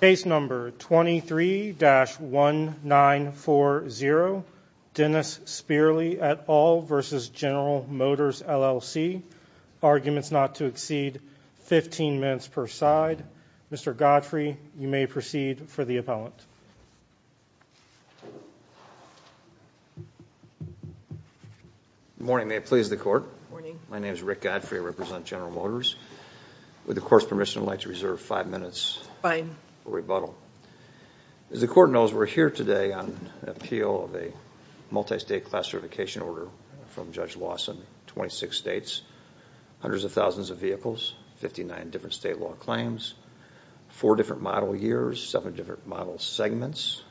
Case number 23-1940, Dennis Speerly et al. v. General Motors LLC. Arguments not to exceed 15 minutes per side. Mr. Godfrey, you may proceed for the appellant. Good morning, may it please the court. My name is Rick Godfrey, I represent As the court knows, we're here today on an appeal of a multi-state class certification order from Judge Lawson, 26 states, hundreds of thousands of vehicles, 59 different state law claims, 4 different model years, 7 different model segments,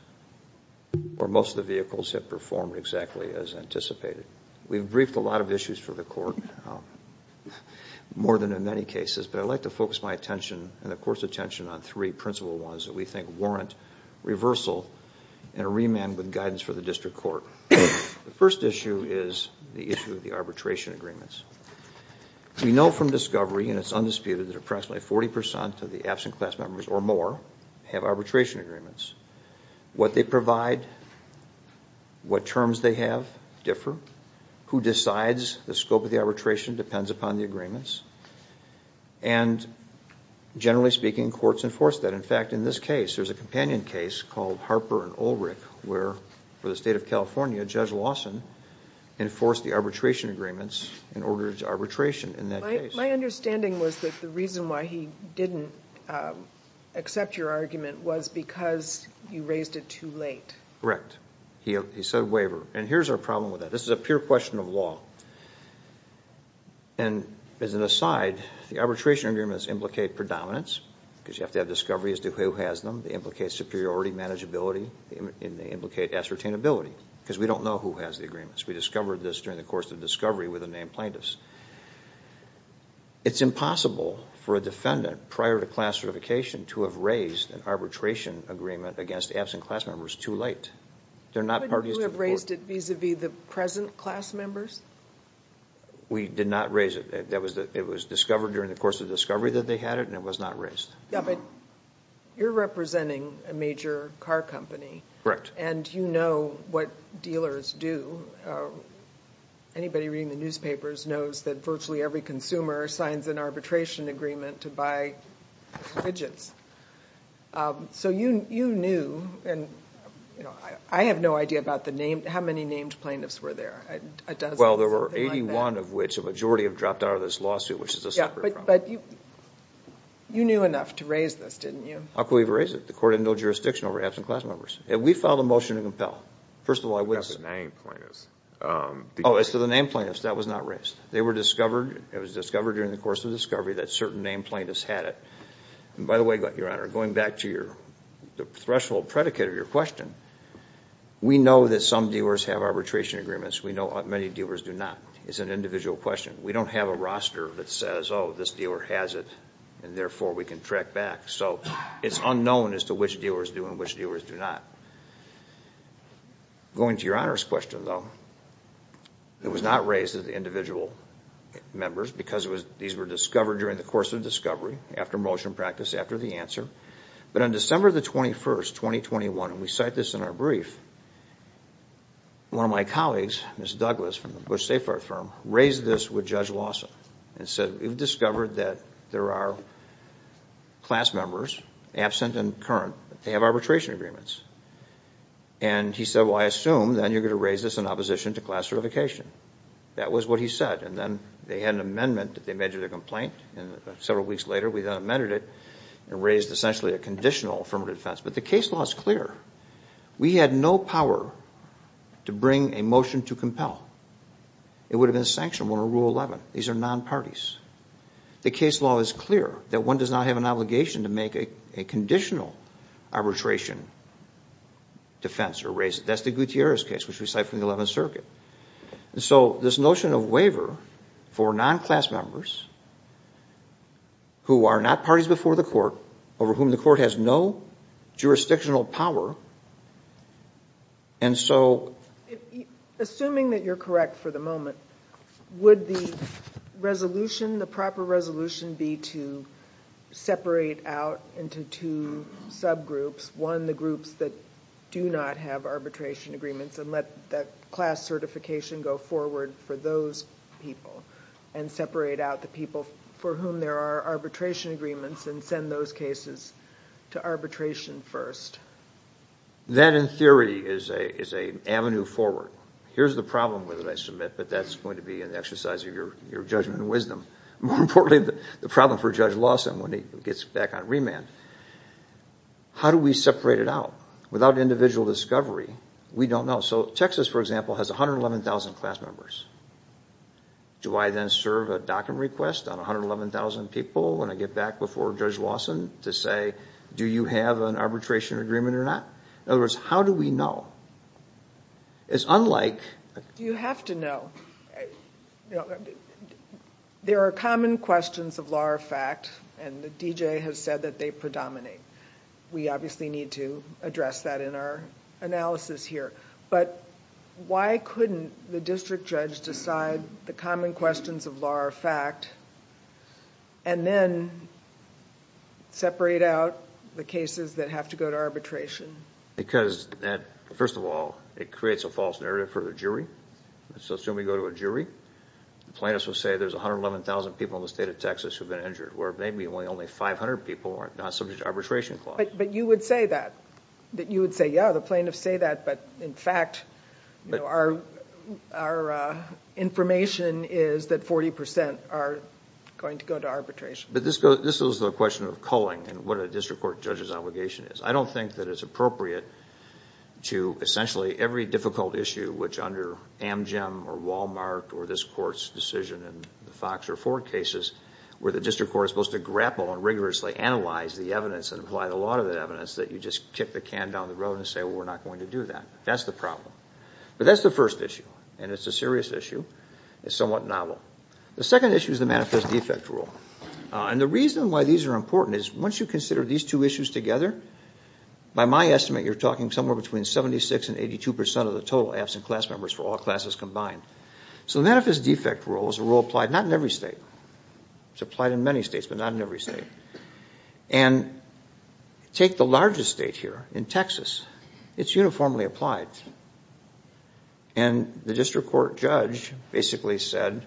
where most of the vehicles have performed exactly as anticipated. We've briefed a lot of issues for the court, more than in many cases, but I'd like to focus my attention, and the court's attention, on 3 principal ones that we think warrant reversal and a remand with guidance for the district court. The first issue is the issue of the arbitration agreements. We know from discovery and it's undisputed that approximately 40% of the absent class members or more have arbitration agreements. What they provide, what terms they have, differ. Who decides the scope of the arbitration depends upon the agreements, and generally speaking, courts enforce that. In fact, in this case, there's a companion case called Harper and Ulrich, where for the state of California, Judge Lawson enforced the arbitration agreements in order to arbitration in that case. My understanding was that the reason why he didn't accept your argument was because you raised it too late. Correct. He said waiver, and here's our problem with that. This is a pure question of law, and as an aside, the arbitration agreements implicate predominance, because you have to have discovery as to who has them. They implicate superiority, manageability, and they implicate ascertainability, because we don't know who has the agreements. We discovered this during the course of discovery with the named plaintiffs. It's impossible for a defendant, prior to class certification, to have raised an arbitration agreement against absent class members too late. They're not parties to the court. Are we the present class members? We did not raise it. It was discovered during the course of discovery that they had it, and it was not raised. Yeah, but you're representing a major car company, and you know what dealers do. Anybody reading the newspapers knows that virtually every consumer signs an arbitration agreement to buy widgets. So you knew, and I have no idea about the name. How many named plaintiffs were there? Well, there were 81 of which. A majority have dropped out of this lawsuit, which is a separate problem. Yeah, but you knew enough to raise this, didn't you? How could we have raised it? The court had no jurisdiction over absent class members, and we filed a motion to compel. First of all, I wouldn't say. Oh, it's to the named plaintiffs. That was not raised. They were discovered. It was discovered during the course of discovery that certain named plaintiffs had it, and by the way, Your Honor, going back to the threshold predicate of your question, we know that some dealers have arbitration agreements. We know many dealers do not. It's an individual question. We don't have a roster that says, oh, this dealer has it, and therefore, we can track back. So it's unknown as to which dealers do and which dealers do not. Going to Your Honor's question, though, it was not raised to the individual members because these were discovered during the course of discovery, after motion practice, after the answer, but on December the 21st, 2021, and we cite this in our brief, one of my colleagues, Ms. Douglas from the Bush Safeguard Firm, raised this with Judge Lawson and said, we've discovered that there are class members, absent and current, that they have arbitration agreements, and he said, well, I assume then you're going to raise this in opposition to class certification. That was what he said, and then they had an amendment that they made to their complaint, and several weeks later, we then amended it and raised essentially a conditional affirmative defense. But the case law is clear. We had no power to bring a motion to compel. It would have been sanctioned under Rule 11. These are non-parties. The case law is clear that one does not have an obligation to make a conditional arbitration defense or raise it. That's the Gutierrez case, which we cite from the 11th Circuit. And so this notion of waiver for non-class members who are not parties before the court, over whom the court has no jurisdictional power, and so... Assuming that you're correct for the moment, would the resolution, the proper resolution, be to separate out into two subgroups, one, the groups that do not have arbitration agreements, and let that class certification go forward for those people, and separate out the people for whom there are arbitration agreements and send those cases to arbitration first? That, in theory, is an avenue forward. Here's the problem with it, I submit, but that's going to be an exercise of your judgment and wisdom. More importantly, the problem for Judge Lawson when he gets back on remand. How do we separate it out? Without individual discovery, we don't know. So Texas, for example, has 111,000 class members. Do I then serve a docket request on 111,000 people when I get back before Judge Lawson to say, do you have an arbitration agreement or not? In other words, how do we know? It's unlike... You have to know. There are common questions of law or fact, and the D.J. has said that they predominate. We obviously need to address that in our analysis here, but why couldn't the district judge decide the common questions of law or fact, and then separate out the cases that have to go to arbitration? Because, first of all, it creates a false narrative for the jury. Let's assume we go to a jury. The plaintiffs will say there's 111,000 people in the state of Texas who have been injured, where maybe only 500 people are not subject to arbitration clause. But you would say that. You would say, yeah, the plaintiffs say that, but in fact, our information is that 40% are going to go to arbitration. But this is the question of culling and what a district court judge's obligation is. I don't think that it's appropriate to essentially every difficult issue, which under Amgem or Walmart or this court's decision in the Fox or Ford cases, where the district court is supposed to grapple and rigorously analyze the evidence and apply the law to the evidence, that you just kick the can down the road and say, well, we're not going to do that. That's the problem. But that's the first issue, and it's a serious issue. It's somewhat novel. The second issue is the manifest defect rule. And the reason why these are important is once you consider these two issues together, by my estimate, you're talking somewhere between 76% and 82% of the total absent class members for all classes combined. So the manifest defect rule is a rule applied not in every state. It's applied in many states, but not in every state. And take the largest state here in Texas. It's uniformly applied. And the district court judge basically said,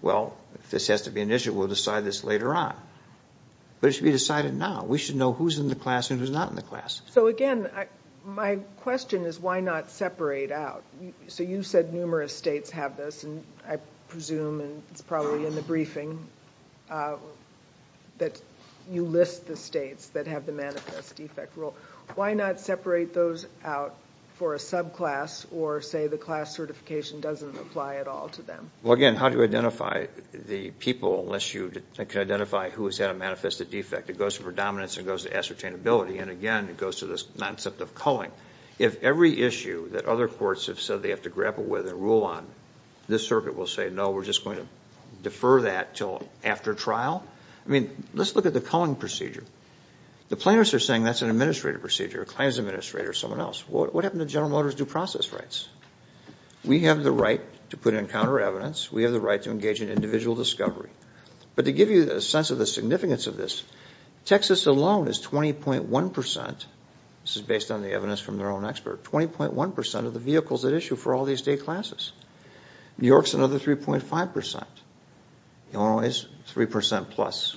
well, if this has to be an issue, we'll decide this later on. But it should be decided now. We should know who's in the class and who's not in the class. So again, my question is, why not separate out? So you said numerous states have this, and I presume, and it's probably in the briefing, that you list the states that have the manifest defect rule. Why not separate those out for a subclass or say the class certification doesn't apply at all to them? Well, again, how do you identify the people unless you can identify who has had a manifested defect? It goes to predominance. It goes to ascertainability. And again, it goes to this concept of culling. If every issue that other courts have said they have to grapple with and rule on, this circuit will say, no, we're just going to defer that until after trial? I mean, let's look at the culling procedure. The planners are saying that's an administrative procedure. A claims administrator is someone else. What happened to General Motors due process rights? We have the right to put in counter evidence. We have the right to engage in individual discovery. But to give you a sense of the significance of this, Texas alone is 20.1 percent, this is based on the evidence from their own expert, 20.1 percent of the vehicles at issue for all these state classes. New York's another 3.5 percent. Illinois is 3 percent plus.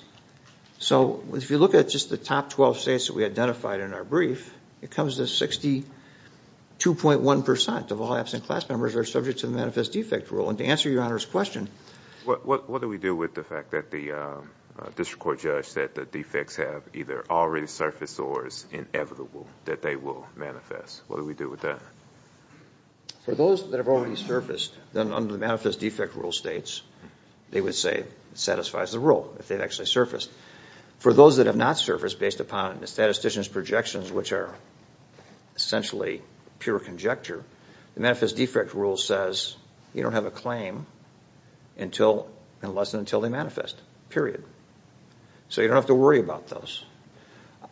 So if you look at just the top 12 states that we identified in our brief, it comes to 62.1 percent of all absent class members are subject to the manifest defect rule. And to answer Your Honor's question. What do we do with the fact that the district court judge said the defects have either already surfaced or it's inevitable that they will manifest? What do we do with that? For those that have already surfaced, under the manifest defect rule states, they would say it satisfies the rule if they've actually surfaced. For those that have not surfaced, based upon the statistician's projections, which are essentially pure conjecture, the manifest defect rule says you don't have a claim unless and until they manifest, period. So you don't have to worry about those.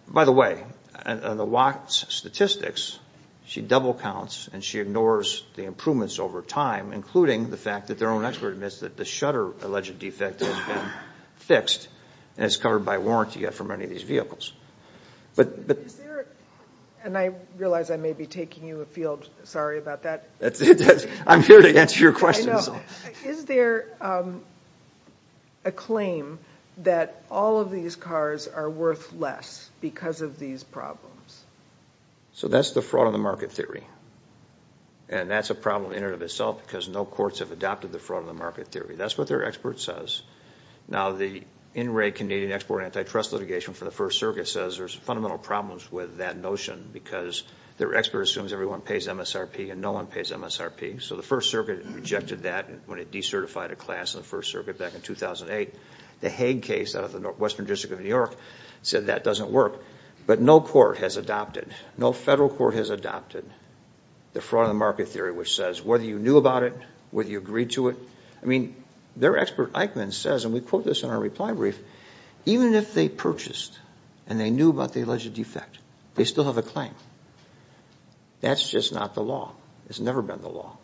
By the way, on the WAC's statistics, she double counts and she ignores the improvements over time, including the fact that their own expert admits that the shutter alleged defect has been fixed and it's covered by warranty yet for many of these vehicles. But is there, and I realize I may be taking you afield, sorry about that. I'm here to answer your questions. I know. Is there a claim that all of these cars are worth less because of these problems? So that's the fraud on the market theory. And that's a problem in and of itself because no courts have adopted the fraud on the market theory. That's what their expert says. Now the in-rate Canadian export antitrust litigation for the First Circuit says there's fundamental problems with that notion because their expert assumes everyone pays MSRP and no one pays MSRP. So the First Circuit rejected that when it decertified a class in the First Circuit back in 2008. The Hague case out of the Western District of New York said that doesn't work. But no court has adopted, no federal court has adopted the fraud on the market theory which says whether you knew about it, whether you agreed to it. I mean, their expert Eichmann says, and we quote this in our reply brief, even if they purchased and they knew about the alleged defect, they still have a claim. That's just not the law. It's never been the law.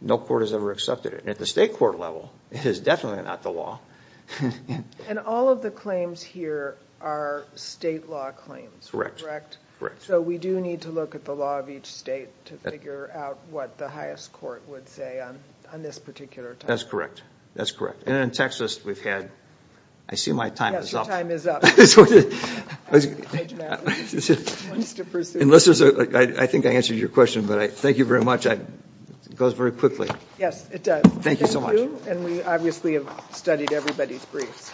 No court has ever accepted it. And at the state court level, it is definitely not the law. And all of the claims here are state law claims, correct? Correct. Correct. So we do need to look at the law of each state to figure out what the highest court would say on this particular topic. That's correct. That's correct. And in Texas, we've had, I see my time is up. Yes, your time is up. Unless there's a, I think I answered your question, but I thank you very much. It goes very quickly. Yes, it does. Thank you so much. And we obviously have studied everybody's briefs.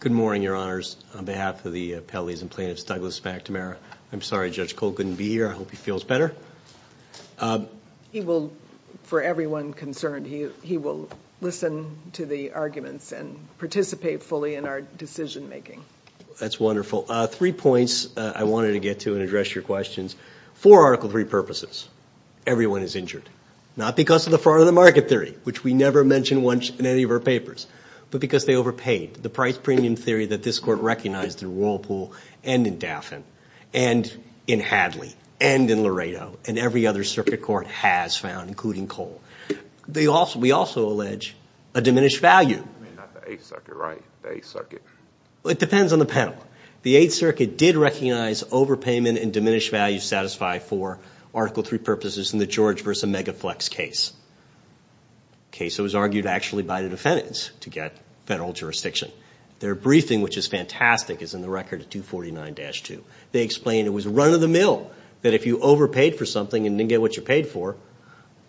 Good morning, Your Honors. On behalf of the appellees and plaintiffs, Douglas McNamara. I'm sorry, Judge Cole couldn't be here. I hope he feels better. He will, for everyone concerned, he will listen to the arguments and participate fully in our decision making. That's wonderful. Three points I wanted to get to and address your questions. For Article 3 purposes, everyone is injured. Not because of the fraud of the market theory, which we never mentioned in any of our papers, but because they overpaid. The price premium theory that this court recognized in Whirlpool and in Daffin and in Hadley and in Laredo and every other circuit court has found, including Cole. We also allege a diminished value. I mean, not the Eighth Circuit, right? The Eighth Circuit. It depends on the panel. The Eighth Circuit did recognize overpayment and diminished value satisfied for Article 3 purposes in the George v. Megaflex case, a case that was argued actually by the defendants to get federal jurisdiction. Their briefing, which is fantastic, is in the record 249-2. They explained it was run of the mill that if you overpaid for something and didn't get what you paid for,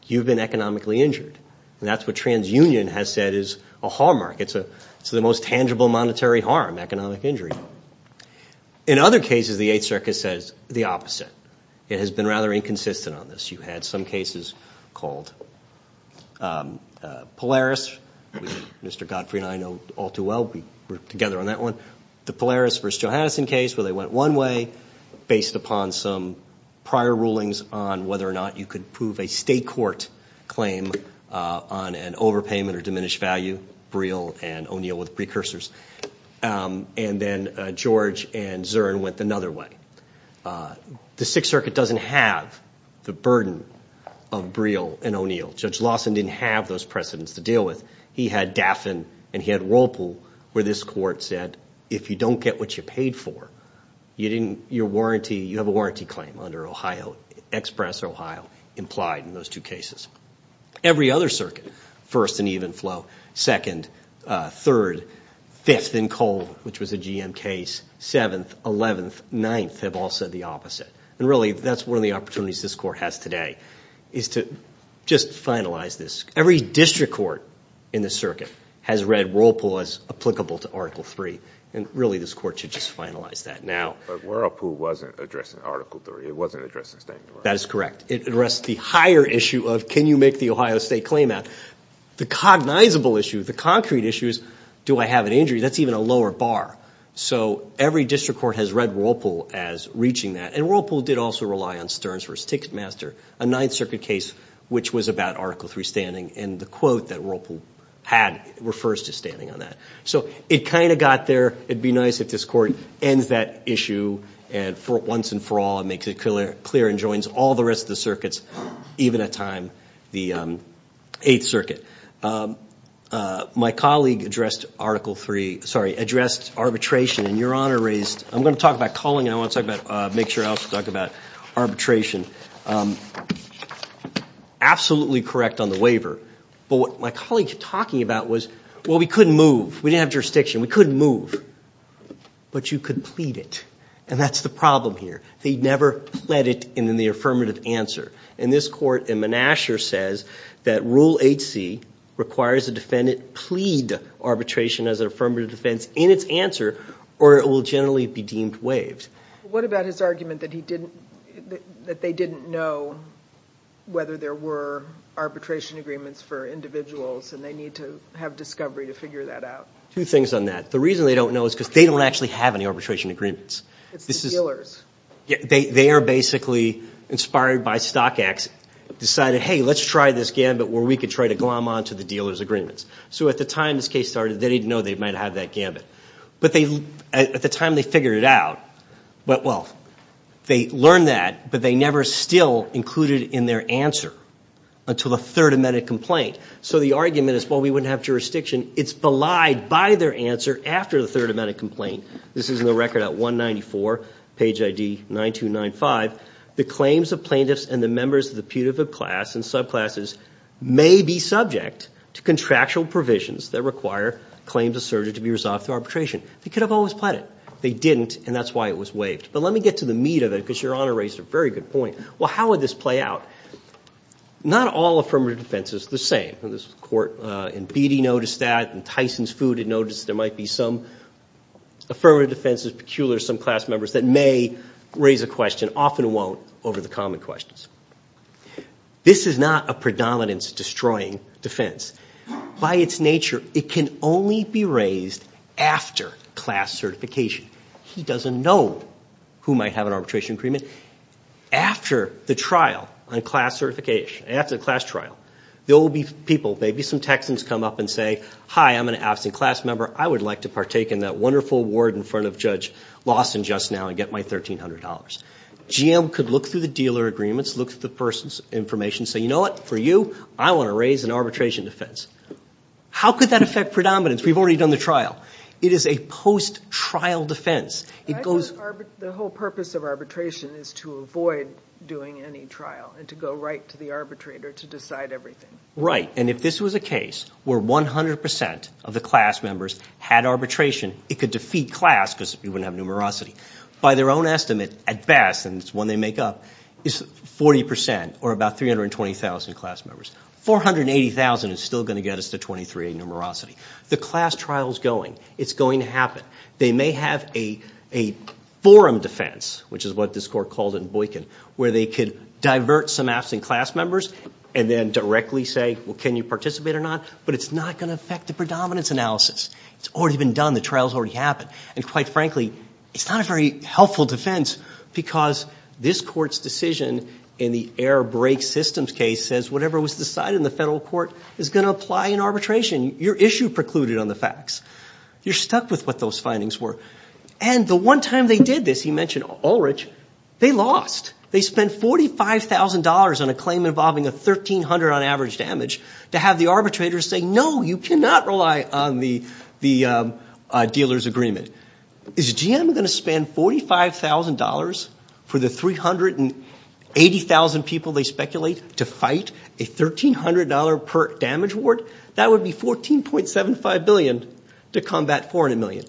you've been economically injured. That's what TransUnion has said is a hallmark. It's the most tangible monetary harm, economic injury. In other cases, the Eighth Circuit says the opposite. It has been rather inconsistent on this. You had some cases called Polaris, which Mr. Godfrey and I know all too well. We were together on that one. The Polaris v. Johanneson case where they went one way based upon some prior rulings on whether or not you could prove a state court claim on an overpayment or diminished value, Breel and O'Neill with precursors. And then George and Zurn went another way. The Sixth Circuit doesn't have the burden of Breel and O'Neill. Judge Lawson didn't have those precedents to deal with. He had Daffin and he had Whirlpool, where this court said, if you don't get what you paid for, you have a warranty claim under Ohio, Express Ohio, implied in those two cases. Every other circuit, First and Evenflow, Second, Third, Fifth and Colvin, which was a GM case, Sixth, Seventh, Eleventh, Ninth, have all said the opposite. And really, that's one of the opportunities this court has today, is to just finalize this. Every district court in the circuit has read rule pause applicable to Article III. And really, this court should just finalize that now. But Whirlpool wasn't addressing Article III. It wasn't addressing state and local. That is correct. It addressed the higher issue of, can you make the Ohio State claim out? The cognizable issue, the concrete issue is, do I have an injury? That's even a lower bar. So, every district court has read Whirlpool as reaching that. And Whirlpool did also rely on Stearns v. Ticketmaster, a Ninth Circuit case which was about Article III standing, and the quote that Whirlpool had refers to standing on that. So, it kind of got there. It'd be nice if this court ends that issue once and for all and makes it clear and joins all the rest of the circuits, even at time the Eighth Circuit. My colleague addressed Arbitration, and Your Honor raised, I'm going to talk about calling and I want to make sure I also talk about Arbitration. Absolutely correct on the waiver, but what my colleague was talking about was, well, we couldn't move. We didn't have jurisdiction. We couldn't move. But you could plead it. And that's the problem here. They never pled it in the affirmative answer. And this court in Menasher says that Rule 8c requires a defendant plead Arbitration as an affirmative defense in its answer or it will generally be deemed waived. What about his argument that they didn't know whether there were Arbitration Agreements for individuals and they need to have discovery to figure that out? Two things on that. The reason they don't know is because they don't actually have any Arbitration Agreements. It's the dealers. They are basically inspired by StockX, decided, hey, let's try this gambit where we can try to glom onto the dealers' agreements. So at the time this case started, they didn't know they might have that gambit. But at the time they figured it out, well, they learned that, but they never still included in their answer until the Third Amendment complaint. So the argument is, well, we wouldn't have jurisdiction. It's belied by their answer after the Third Amendment complaint. This is in the record at 194, page ID 9295. The claims of plaintiffs and the members of the putative class and subclasses may be subject to contractual provisions that require claims asserted to be resolved through arbitration. They could have always pled it. They didn't, and that's why it was waived. But let me get to the meat of it because Your Honor raised a very good point. Well, how would this play out? Not all affirmative defense is the same. This Court in Beattie noticed that and Tyson's Food had noticed that there might be some affirmative defense that's peculiar to some class members that may raise a question, often won't, over the common questions. This is not a predominance-destroying defense. By its nature, it can only be raised after class certification. He doesn't know who might have an arbitration agreement. After the trial on class certification, after the class trial, there will be people, maybe some Texans come up and say, hi, I'm an absent class member. I would like to partake in that wonderful award in front of Judge Lawson just now and get my $1,300. GM could look through the dealer agreements, look at the person's information, say, you know what, for you, I want to raise an arbitration defense. How could that affect predominance? We've already done the trial. It is a post-trial defense. It goes. The whole purpose of arbitration is to avoid doing any trial and to go right to the arbitrator to decide everything. Right, and if this was a case where 100% of the class members had arbitration, it could defeat class because we wouldn't have numerosity. By their own estimate, at best, and it's one they make up, it's 40% or about 320,000 class members. 480,000 is still going to get us to 23-8 numerosity. The class trial's going. It's going to happen. They may have a forum defense, which is what this court called it in Boykin, where they could divert some absent class members and then directly say, well, can you participate or not? But it's not going to affect the predominance analysis. It's already been done. The trial's already happened. And quite frankly, it's not a very helpful defense because this court's decision in the air brake systems case says whatever was decided in the federal court is going to apply in arbitration. Your issue precluded on the facts. You're stuck with what those findings were. And the one time they did this, he mentioned Ulrich, they lost. They spent $45,000 on a claim involving a 1,300 on average damage to have the arbitrators say, no, you cannot rely on the dealer's agreement. Is GM going to spend $45,000 for the 380,000 people they speculate to fight a $1,300 per damage award? That would be $14.75 billion to combat $400 million.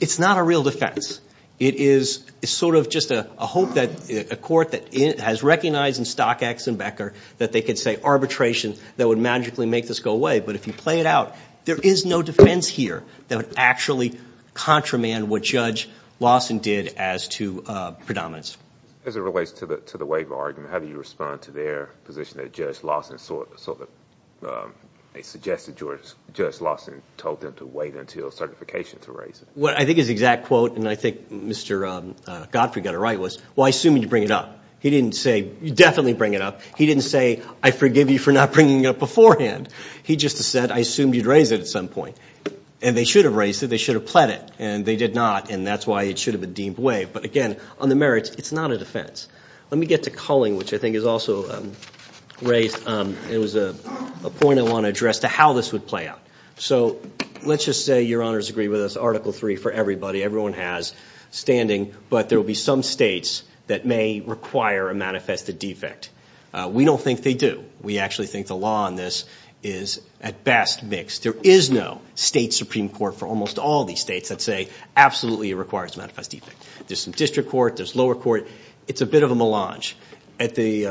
It's not a real defense. It is sort of just a hope that a court that has recognized in Stock X and Becker that they could say arbitration that would magically make this go away. But if you play it out, there is no defense here that would actually contramand what Judge Lawson did as to predominance. As it relates to the waiver argument, how do you respond to their position that Judge Lawson sort of, they suggested Judge Lawson told them to wait until certification to raise it? What I think is the exact quote, and I think Mr. Godfrey got it right, was, well, I assume you bring it up. He didn't say, you definitely bring it up. He didn't say, I forgive you for not bringing it up beforehand. He just said, I assumed you'd raise it at some point. And they should have raised it. They should have pled it. And they did not. And that's why it should have been deemed way. But again, on the merits, it's not a defense. Let me get to Culling, which I think is also raised. It was a point I want to address to how this would play out. So let's just say, your honors agree with us, Article III for everybody. Everyone has standing. But there will be some states that may require a manifested defect. We don't think they do. We actually think the law on this is, at best, mixed. There is no state Supreme Court for almost all these states that say, absolutely, it requires a manifest defect. There's some district court. There's lower court. It's a bit of a melange. At the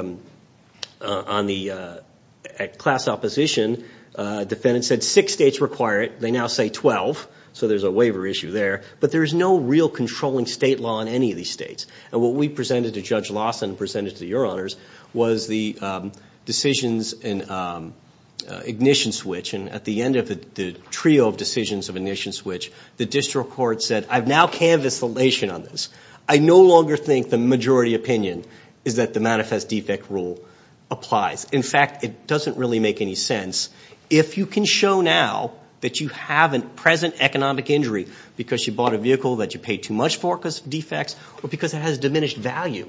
class opposition, defendants said six states require it. They now say 12. So there's a waiver issue there. But there is no real controlling state law in any of these states. And what we presented to Judge Lawson and presented to your honors was the decisions in ignition switch. And at the end of the trio of decisions of ignition switch, the district court said, I've now canvassed the nation on this. I no longer think the majority opinion is that the manifest defect rule applies. In fact, it doesn't really make any sense. If you can show now that you have a present economic injury because you bought a vehicle that you paid too much for because of defects, or because it has diminished value,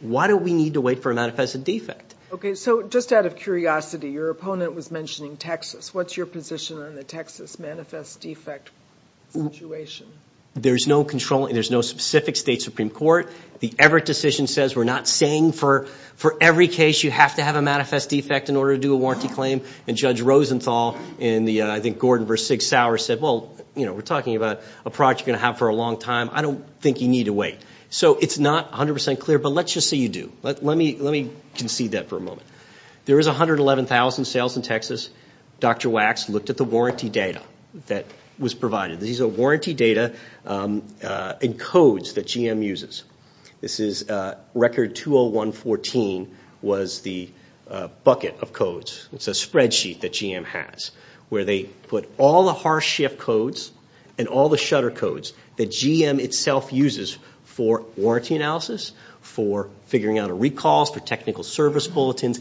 why do we need to wait for a manifested defect? Okay, so just out of curiosity, your opponent was mentioning Texas. What's your position on the Texas manifest defect situation? There's no controlling, there's no specific state supreme court. The Everett decision says we're not saying for every case you have to have a manifest defect in order to do a warranty claim. And Judge Rosenthal in the, I think, Gordon versus Sig Sauer said, well, we're talking about a product you're gonna have for a long time. I don't think you need to wait. So it's not 100% clear, but let's just say you do. Let me concede that for a moment. There is 111,000 sales in Texas. Dr. Wax looked at the warranty data that was provided. These are warranty data and codes that GM uses. This is record 20114 was the bucket of codes. It's a spreadsheet that GM has where they put all the harsh shift codes and all the shutter codes that GM itself uses for warranty analysis, for figuring out a recall, for technical service bulletins,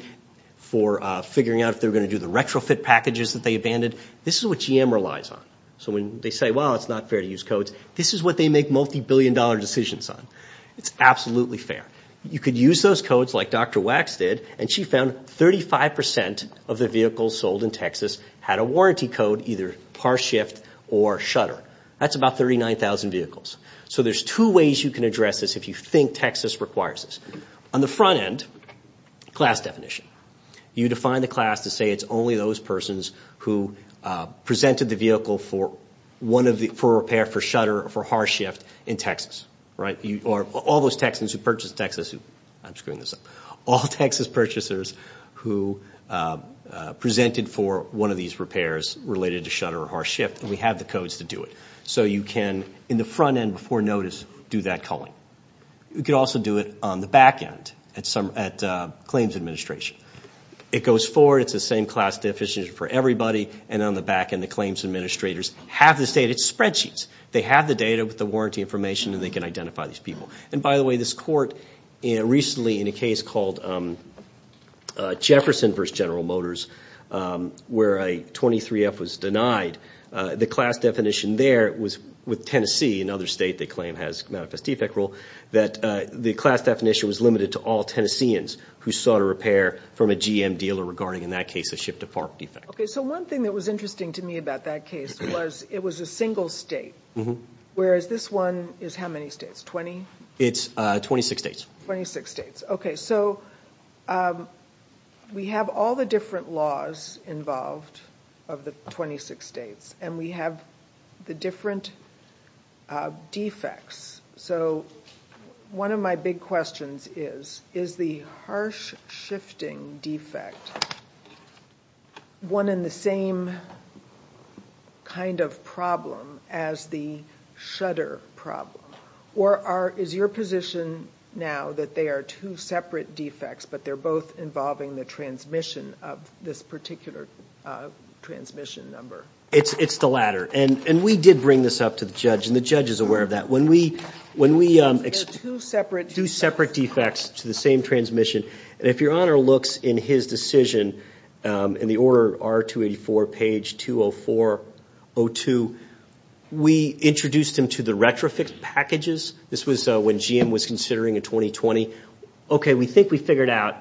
for figuring out if they're gonna do the retrofit packages that they abandoned. This is what GM relies on. So when they say, well, it's not fair to use codes, this is what they make multi-billion dollar decisions on. It's absolutely fair. You could use those codes like Dr. Wax did, and she found 35% of the vehicles sold in Texas had a warranty code, either harsh shift or shutter. That's about 39,000 vehicles. So there's two ways you can address this if you think Texas requires this. On the front end, class definition. You define the class to say it's only those persons who presented the vehicle for repair, for shutter, for harsh shift in Texas. All those Texans who purchased Texas, I'm screwing this up, all Texas purchasers who presented for one of these repairs related to shutter or harsh shift, and we have the codes to do it. So you can, in the front end before notice, do that calling. You could also do it on the back end at claims administration. It goes forward, it's the same class definition for everybody, and then on the back end, the claims administrators have this data. It's spreadsheets. They have the data with the warranty information, and they can identify these people. And by the way, this court recently, in a case called Jefferson versus General Motors, where a 23F was denied, the class definition there was with Tennessee, another state they claim has manifest defect rule, that the class definition was limited to all Tennesseans who sought a repair from a GM dealer regarding, in that case, a shift to farm defect. Okay, so one thing that was interesting to me about that case was, it was a single state, whereas this one is how many states, 20? It's 26 states. 26 states. Okay, so we have all the different laws involved of the 26 states, and we have the different defects. So one of my big questions is, is the harsh shifting defect one in the same kind of problem as the shutter problem? Or is your position now that they are two separate defects, but they're both involving the transmission of this particular transmission number? It's the latter, and we did bring this up to the judge, and the judge is aware of that. When we do separate defects to the same transmission, and if your honor looks in his decision, in the order R-284, page 204-02, we introduced him to the retrofix packages. This was when GM was considering in 2020. Okay, we think we figured out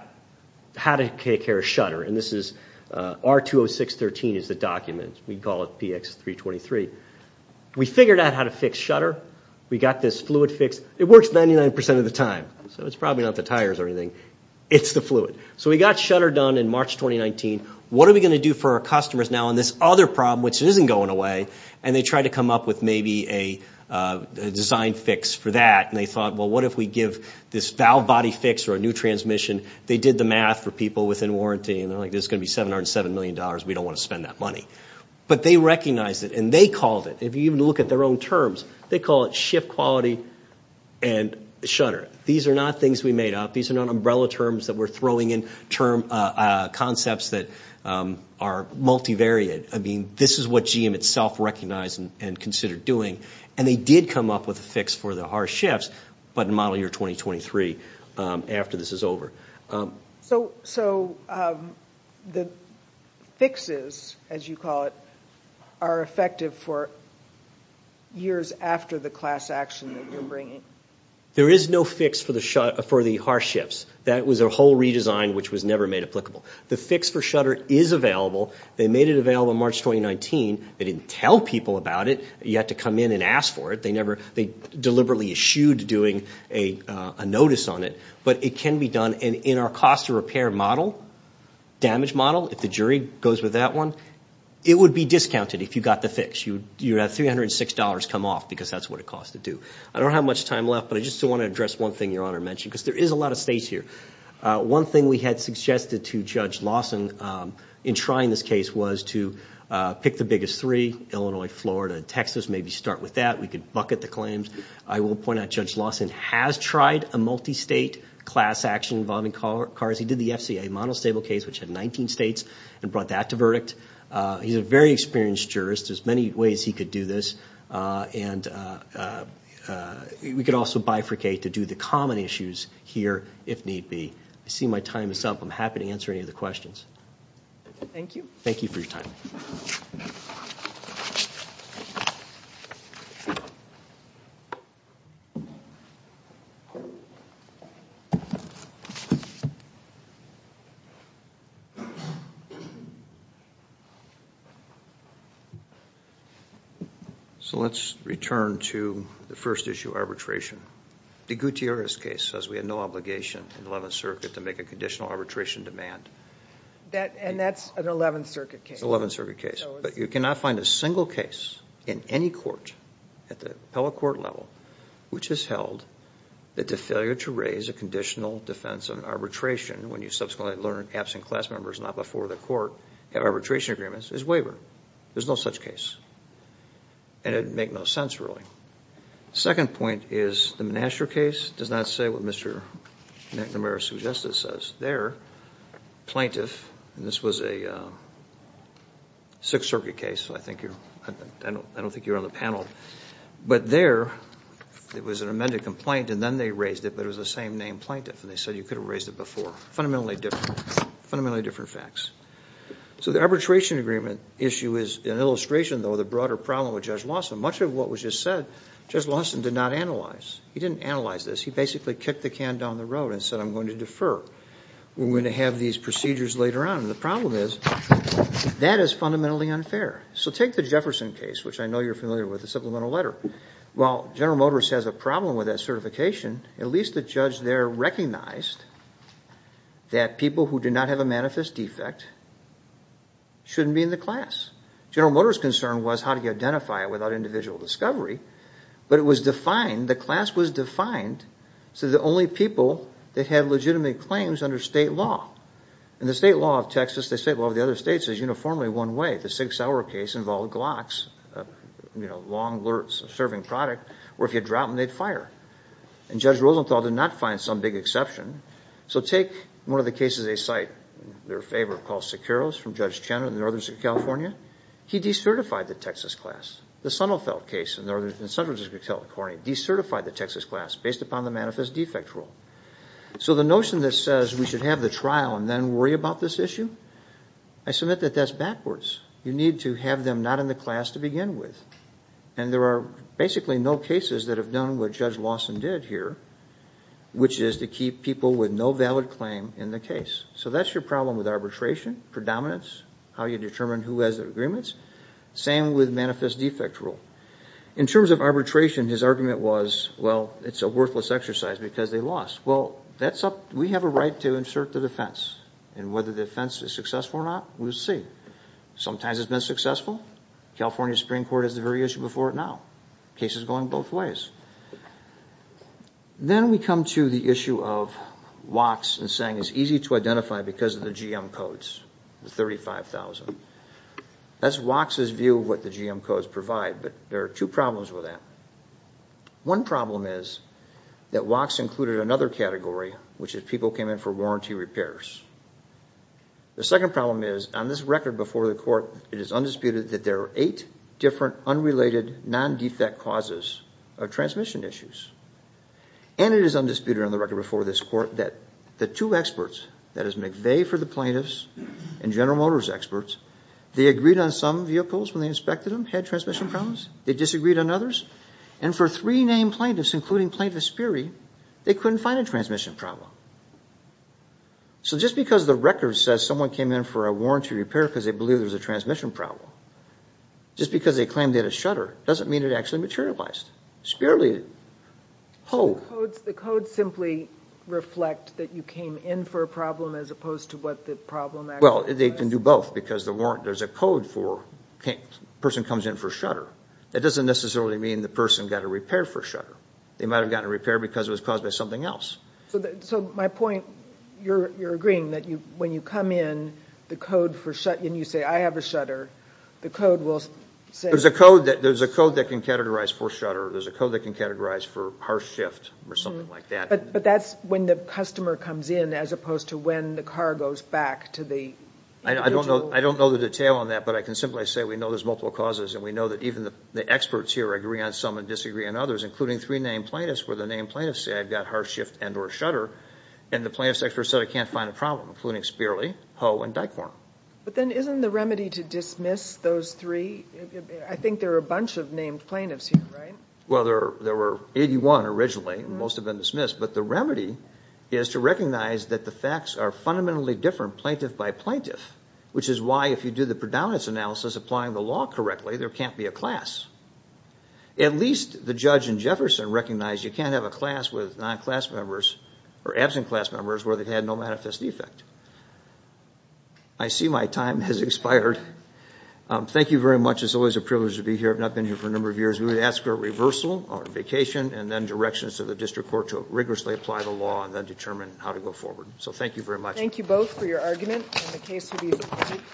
how to take care of shutter, and this is R-206-13 is the document. We call it PX-323. We figured out how to fix shutter. We got this fluid fix. It works 99% of the time, so it's probably not the tires or anything. It's the fluid. So we got shutter done in March 2019. What are we going to do for our customers now on this other problem, which isn't going away? And they tried to come up with maybe a design fix for that, and they thought, well, what if we give this valve body fix or a new transmission? They did the math for people within warranty, and they're like, this is going to be $707 million. We don't want to spend that money. But they recognized it, and they called it, if you even look at their own terms, they call it shift quality and shutter. These are not things we made up. These are not umbrella terms that we're throwing in, concepts that are multivariate. I mean, this is what GM itself recognized and considered doing, and they did come up with a fix for the harsh shifts, but in model year 2023, after this is over. So the fixes, as you call it, are effective for years after the class action that you're bringing? There is no fix for the harsh shifts. That was a whole redesign which was never made applicable. The fix for shutter is available. They made it available March 2019. They didn't tell people about it. You had to come in and ask for it. They deliberately eschewed doing a notice on it. But it can be done, and in our cost of repair model, damage model, if the jury goes with that one, it would be discounted if you got the fix. You'd have $306 come off, because that's what it cost to do. I don't have much time left, but I just want to address one thing your honor mentioned, because there is a lot of states here. One thing we had suggested to Judge Lawson in trying this case was to pick the biggest three, Illinois, Florida, Texas, maybe start with that. We could bucket the claims. I will point out Judge Lawson has tried a multi-state class action involving cars. He did the FCA model stable case, which had 19 states, and brought that to verdict. He's a very experienced jurist. There's many ways he could do this, and we could also bifurcate to do the common issues here, if need be. I see my time is up. I'm happy to answer any of the questions. Thank you. Thank you for your time. Let's return to the first issue, arbitration. The Gutierrez case says we had no obligation in the 11th Circuit to make a conditional arbitration demand. And that's an 11th Circuit case. It's an 11th Circuit case, but you cannot find a single case in any court at the appellate court level, which has held that the failure to raise a conditional defense of an arbitration, when you subsequently learn absent class members not before the court have arbitration agreements, is wavered. There's no such case, and it'd make no sense, really. Second point is the Menascher case does not say what Mr. McNamara-Suggesta says. Their plaintiff, and this was a Sixth Circuit case, so I don't think you're on the panel, but there, it was an amended complaint, and then they raised it, but it was the same name plaintiff, and they said you could have raised it before. Fundamentally different. Fundamentally different facts. So the arbitration agreement issue is an illustration, though, of the broader problem with Judge Lawson. Much of what was just said, Judge Lawson did not analyze. He didn't analyze this. He basically kicked the can down the road and said, I'm going to defer. We're going to have these procedures later on. And the problem is, that is fundamentally unfair. So take the Jefferson case, which I know you're familiar with, the supplemental letter. While General Motors has a problem with that certification, at least the judge there recognized that people who do not have a manifest defect shouldn't be in the class. General Motors' concern was how do you identify it without individual discovery, but it was defined, the class was defined, so the only people that have legitimate claims under state law, and the state law of Texas, the state law of the other states is uniformly one way. The Sig Sauer case involved Glocks, a long serving product, where if you drop them, they'd fire, and Judge Rosenthal did not find some big exception. So take one of the cases they cite, their favorite, called Sikeros from Judge Chen in the northern state of California. He decertified the Texas class. The Sonnefeld case in central district California decertified the Texas class based upon the manifest defect rule. So the notion that says we should have the trial and then worry about this issue, I submit that that's backwards. You need to have them not in the class to begin with. And there are basically no cases that have done what Judge Lawson did here, which is to keep people with no valid claim in the case. So that's your problem with arbitration, predominance, how you determine who has agreements, same with manifest defect rule. In terms of arbitration, his argument was, well, it's a worthless exercise because they lost. Well, we have a right to insert the defense, and whether the case is successful or not, we'll see. Sometimes it's been successful. California Supreme Court has the very issue before it now. Case is going both ways. Then we come to the issue of WOCs and saying it's easy to identify because of the GM codes, the 35,000. That's WOCs' view of what the GM codes provide, but there are two problems with that. One problem is that WOCs included another category, which is people came in for warranty repairs. The second problem is, on this record before the court, it is undisputed that there are eight different unrelated non-defect causes of transmission issues, and it is undisputed on the record before this court that the two experts, that is McVeigh for the plaintiffs and General Motors experts, they agreed on some vehicles when they inspected them, had transmission problems. They disagreed on others, and for three named plaintiffs, including Plaintiff Espiri, they couldn't find a transmission problem. Just because the record says someone came in for a warranty repair because they believe there's a transmission problem, just because they claim they had a shutter, doesn't mean it actually materialized. It's purely a hoax. The codes simply reflect that you came in for a problem as opposed to what the problem actually was. Well, they can do both because there's a code for a person comes in for a shutter. That doesn't necessarily mean the person got a repair for a shutter. They might have gotten a repair because it was caused by something else. My point, you're agreeing that when you come in and you say, I have a shutter, the code will say... There's a code that can categorize for shutter. There's a code that can categorize for harsh shift or something like that. That's when the customer comes in as opposed to when the car goes back to the individual. I don't know the detail on that, but I can simply say we know there's multiple causes and we know that even the experts here agree on some and disagree on others, including three named plaintiffs where the named plaintiffs said, I've got harsh shift and or shutter and the plaintiff's expert said, I can't find a problem, including Spearley, Ho, and Dyckhorn. But then isn't the remedy to dismiss those three... I think there are a bunch of named plaintiffs here, right? Well, there were 81 originally and most have been dismissed, but the remedy is to recognize that the facts are fundamentally different plaintiff by plaintiff, which is why if you do the predominance analysis applying the law correctly, there can't be a class. At least the judge in Jefferson recognized you can't have a class with non-class members or absent class members where they've had no manifest defect. I see my time has expired. Thank you very much. It's always a privilege to be here. I've not been here for a number of years. We would ask for a reversal on vacation and then directions to the district court to rigorously apply the law and then determine how to go forward. So thank you very much. Thank you both for your argument and the case will be submitted.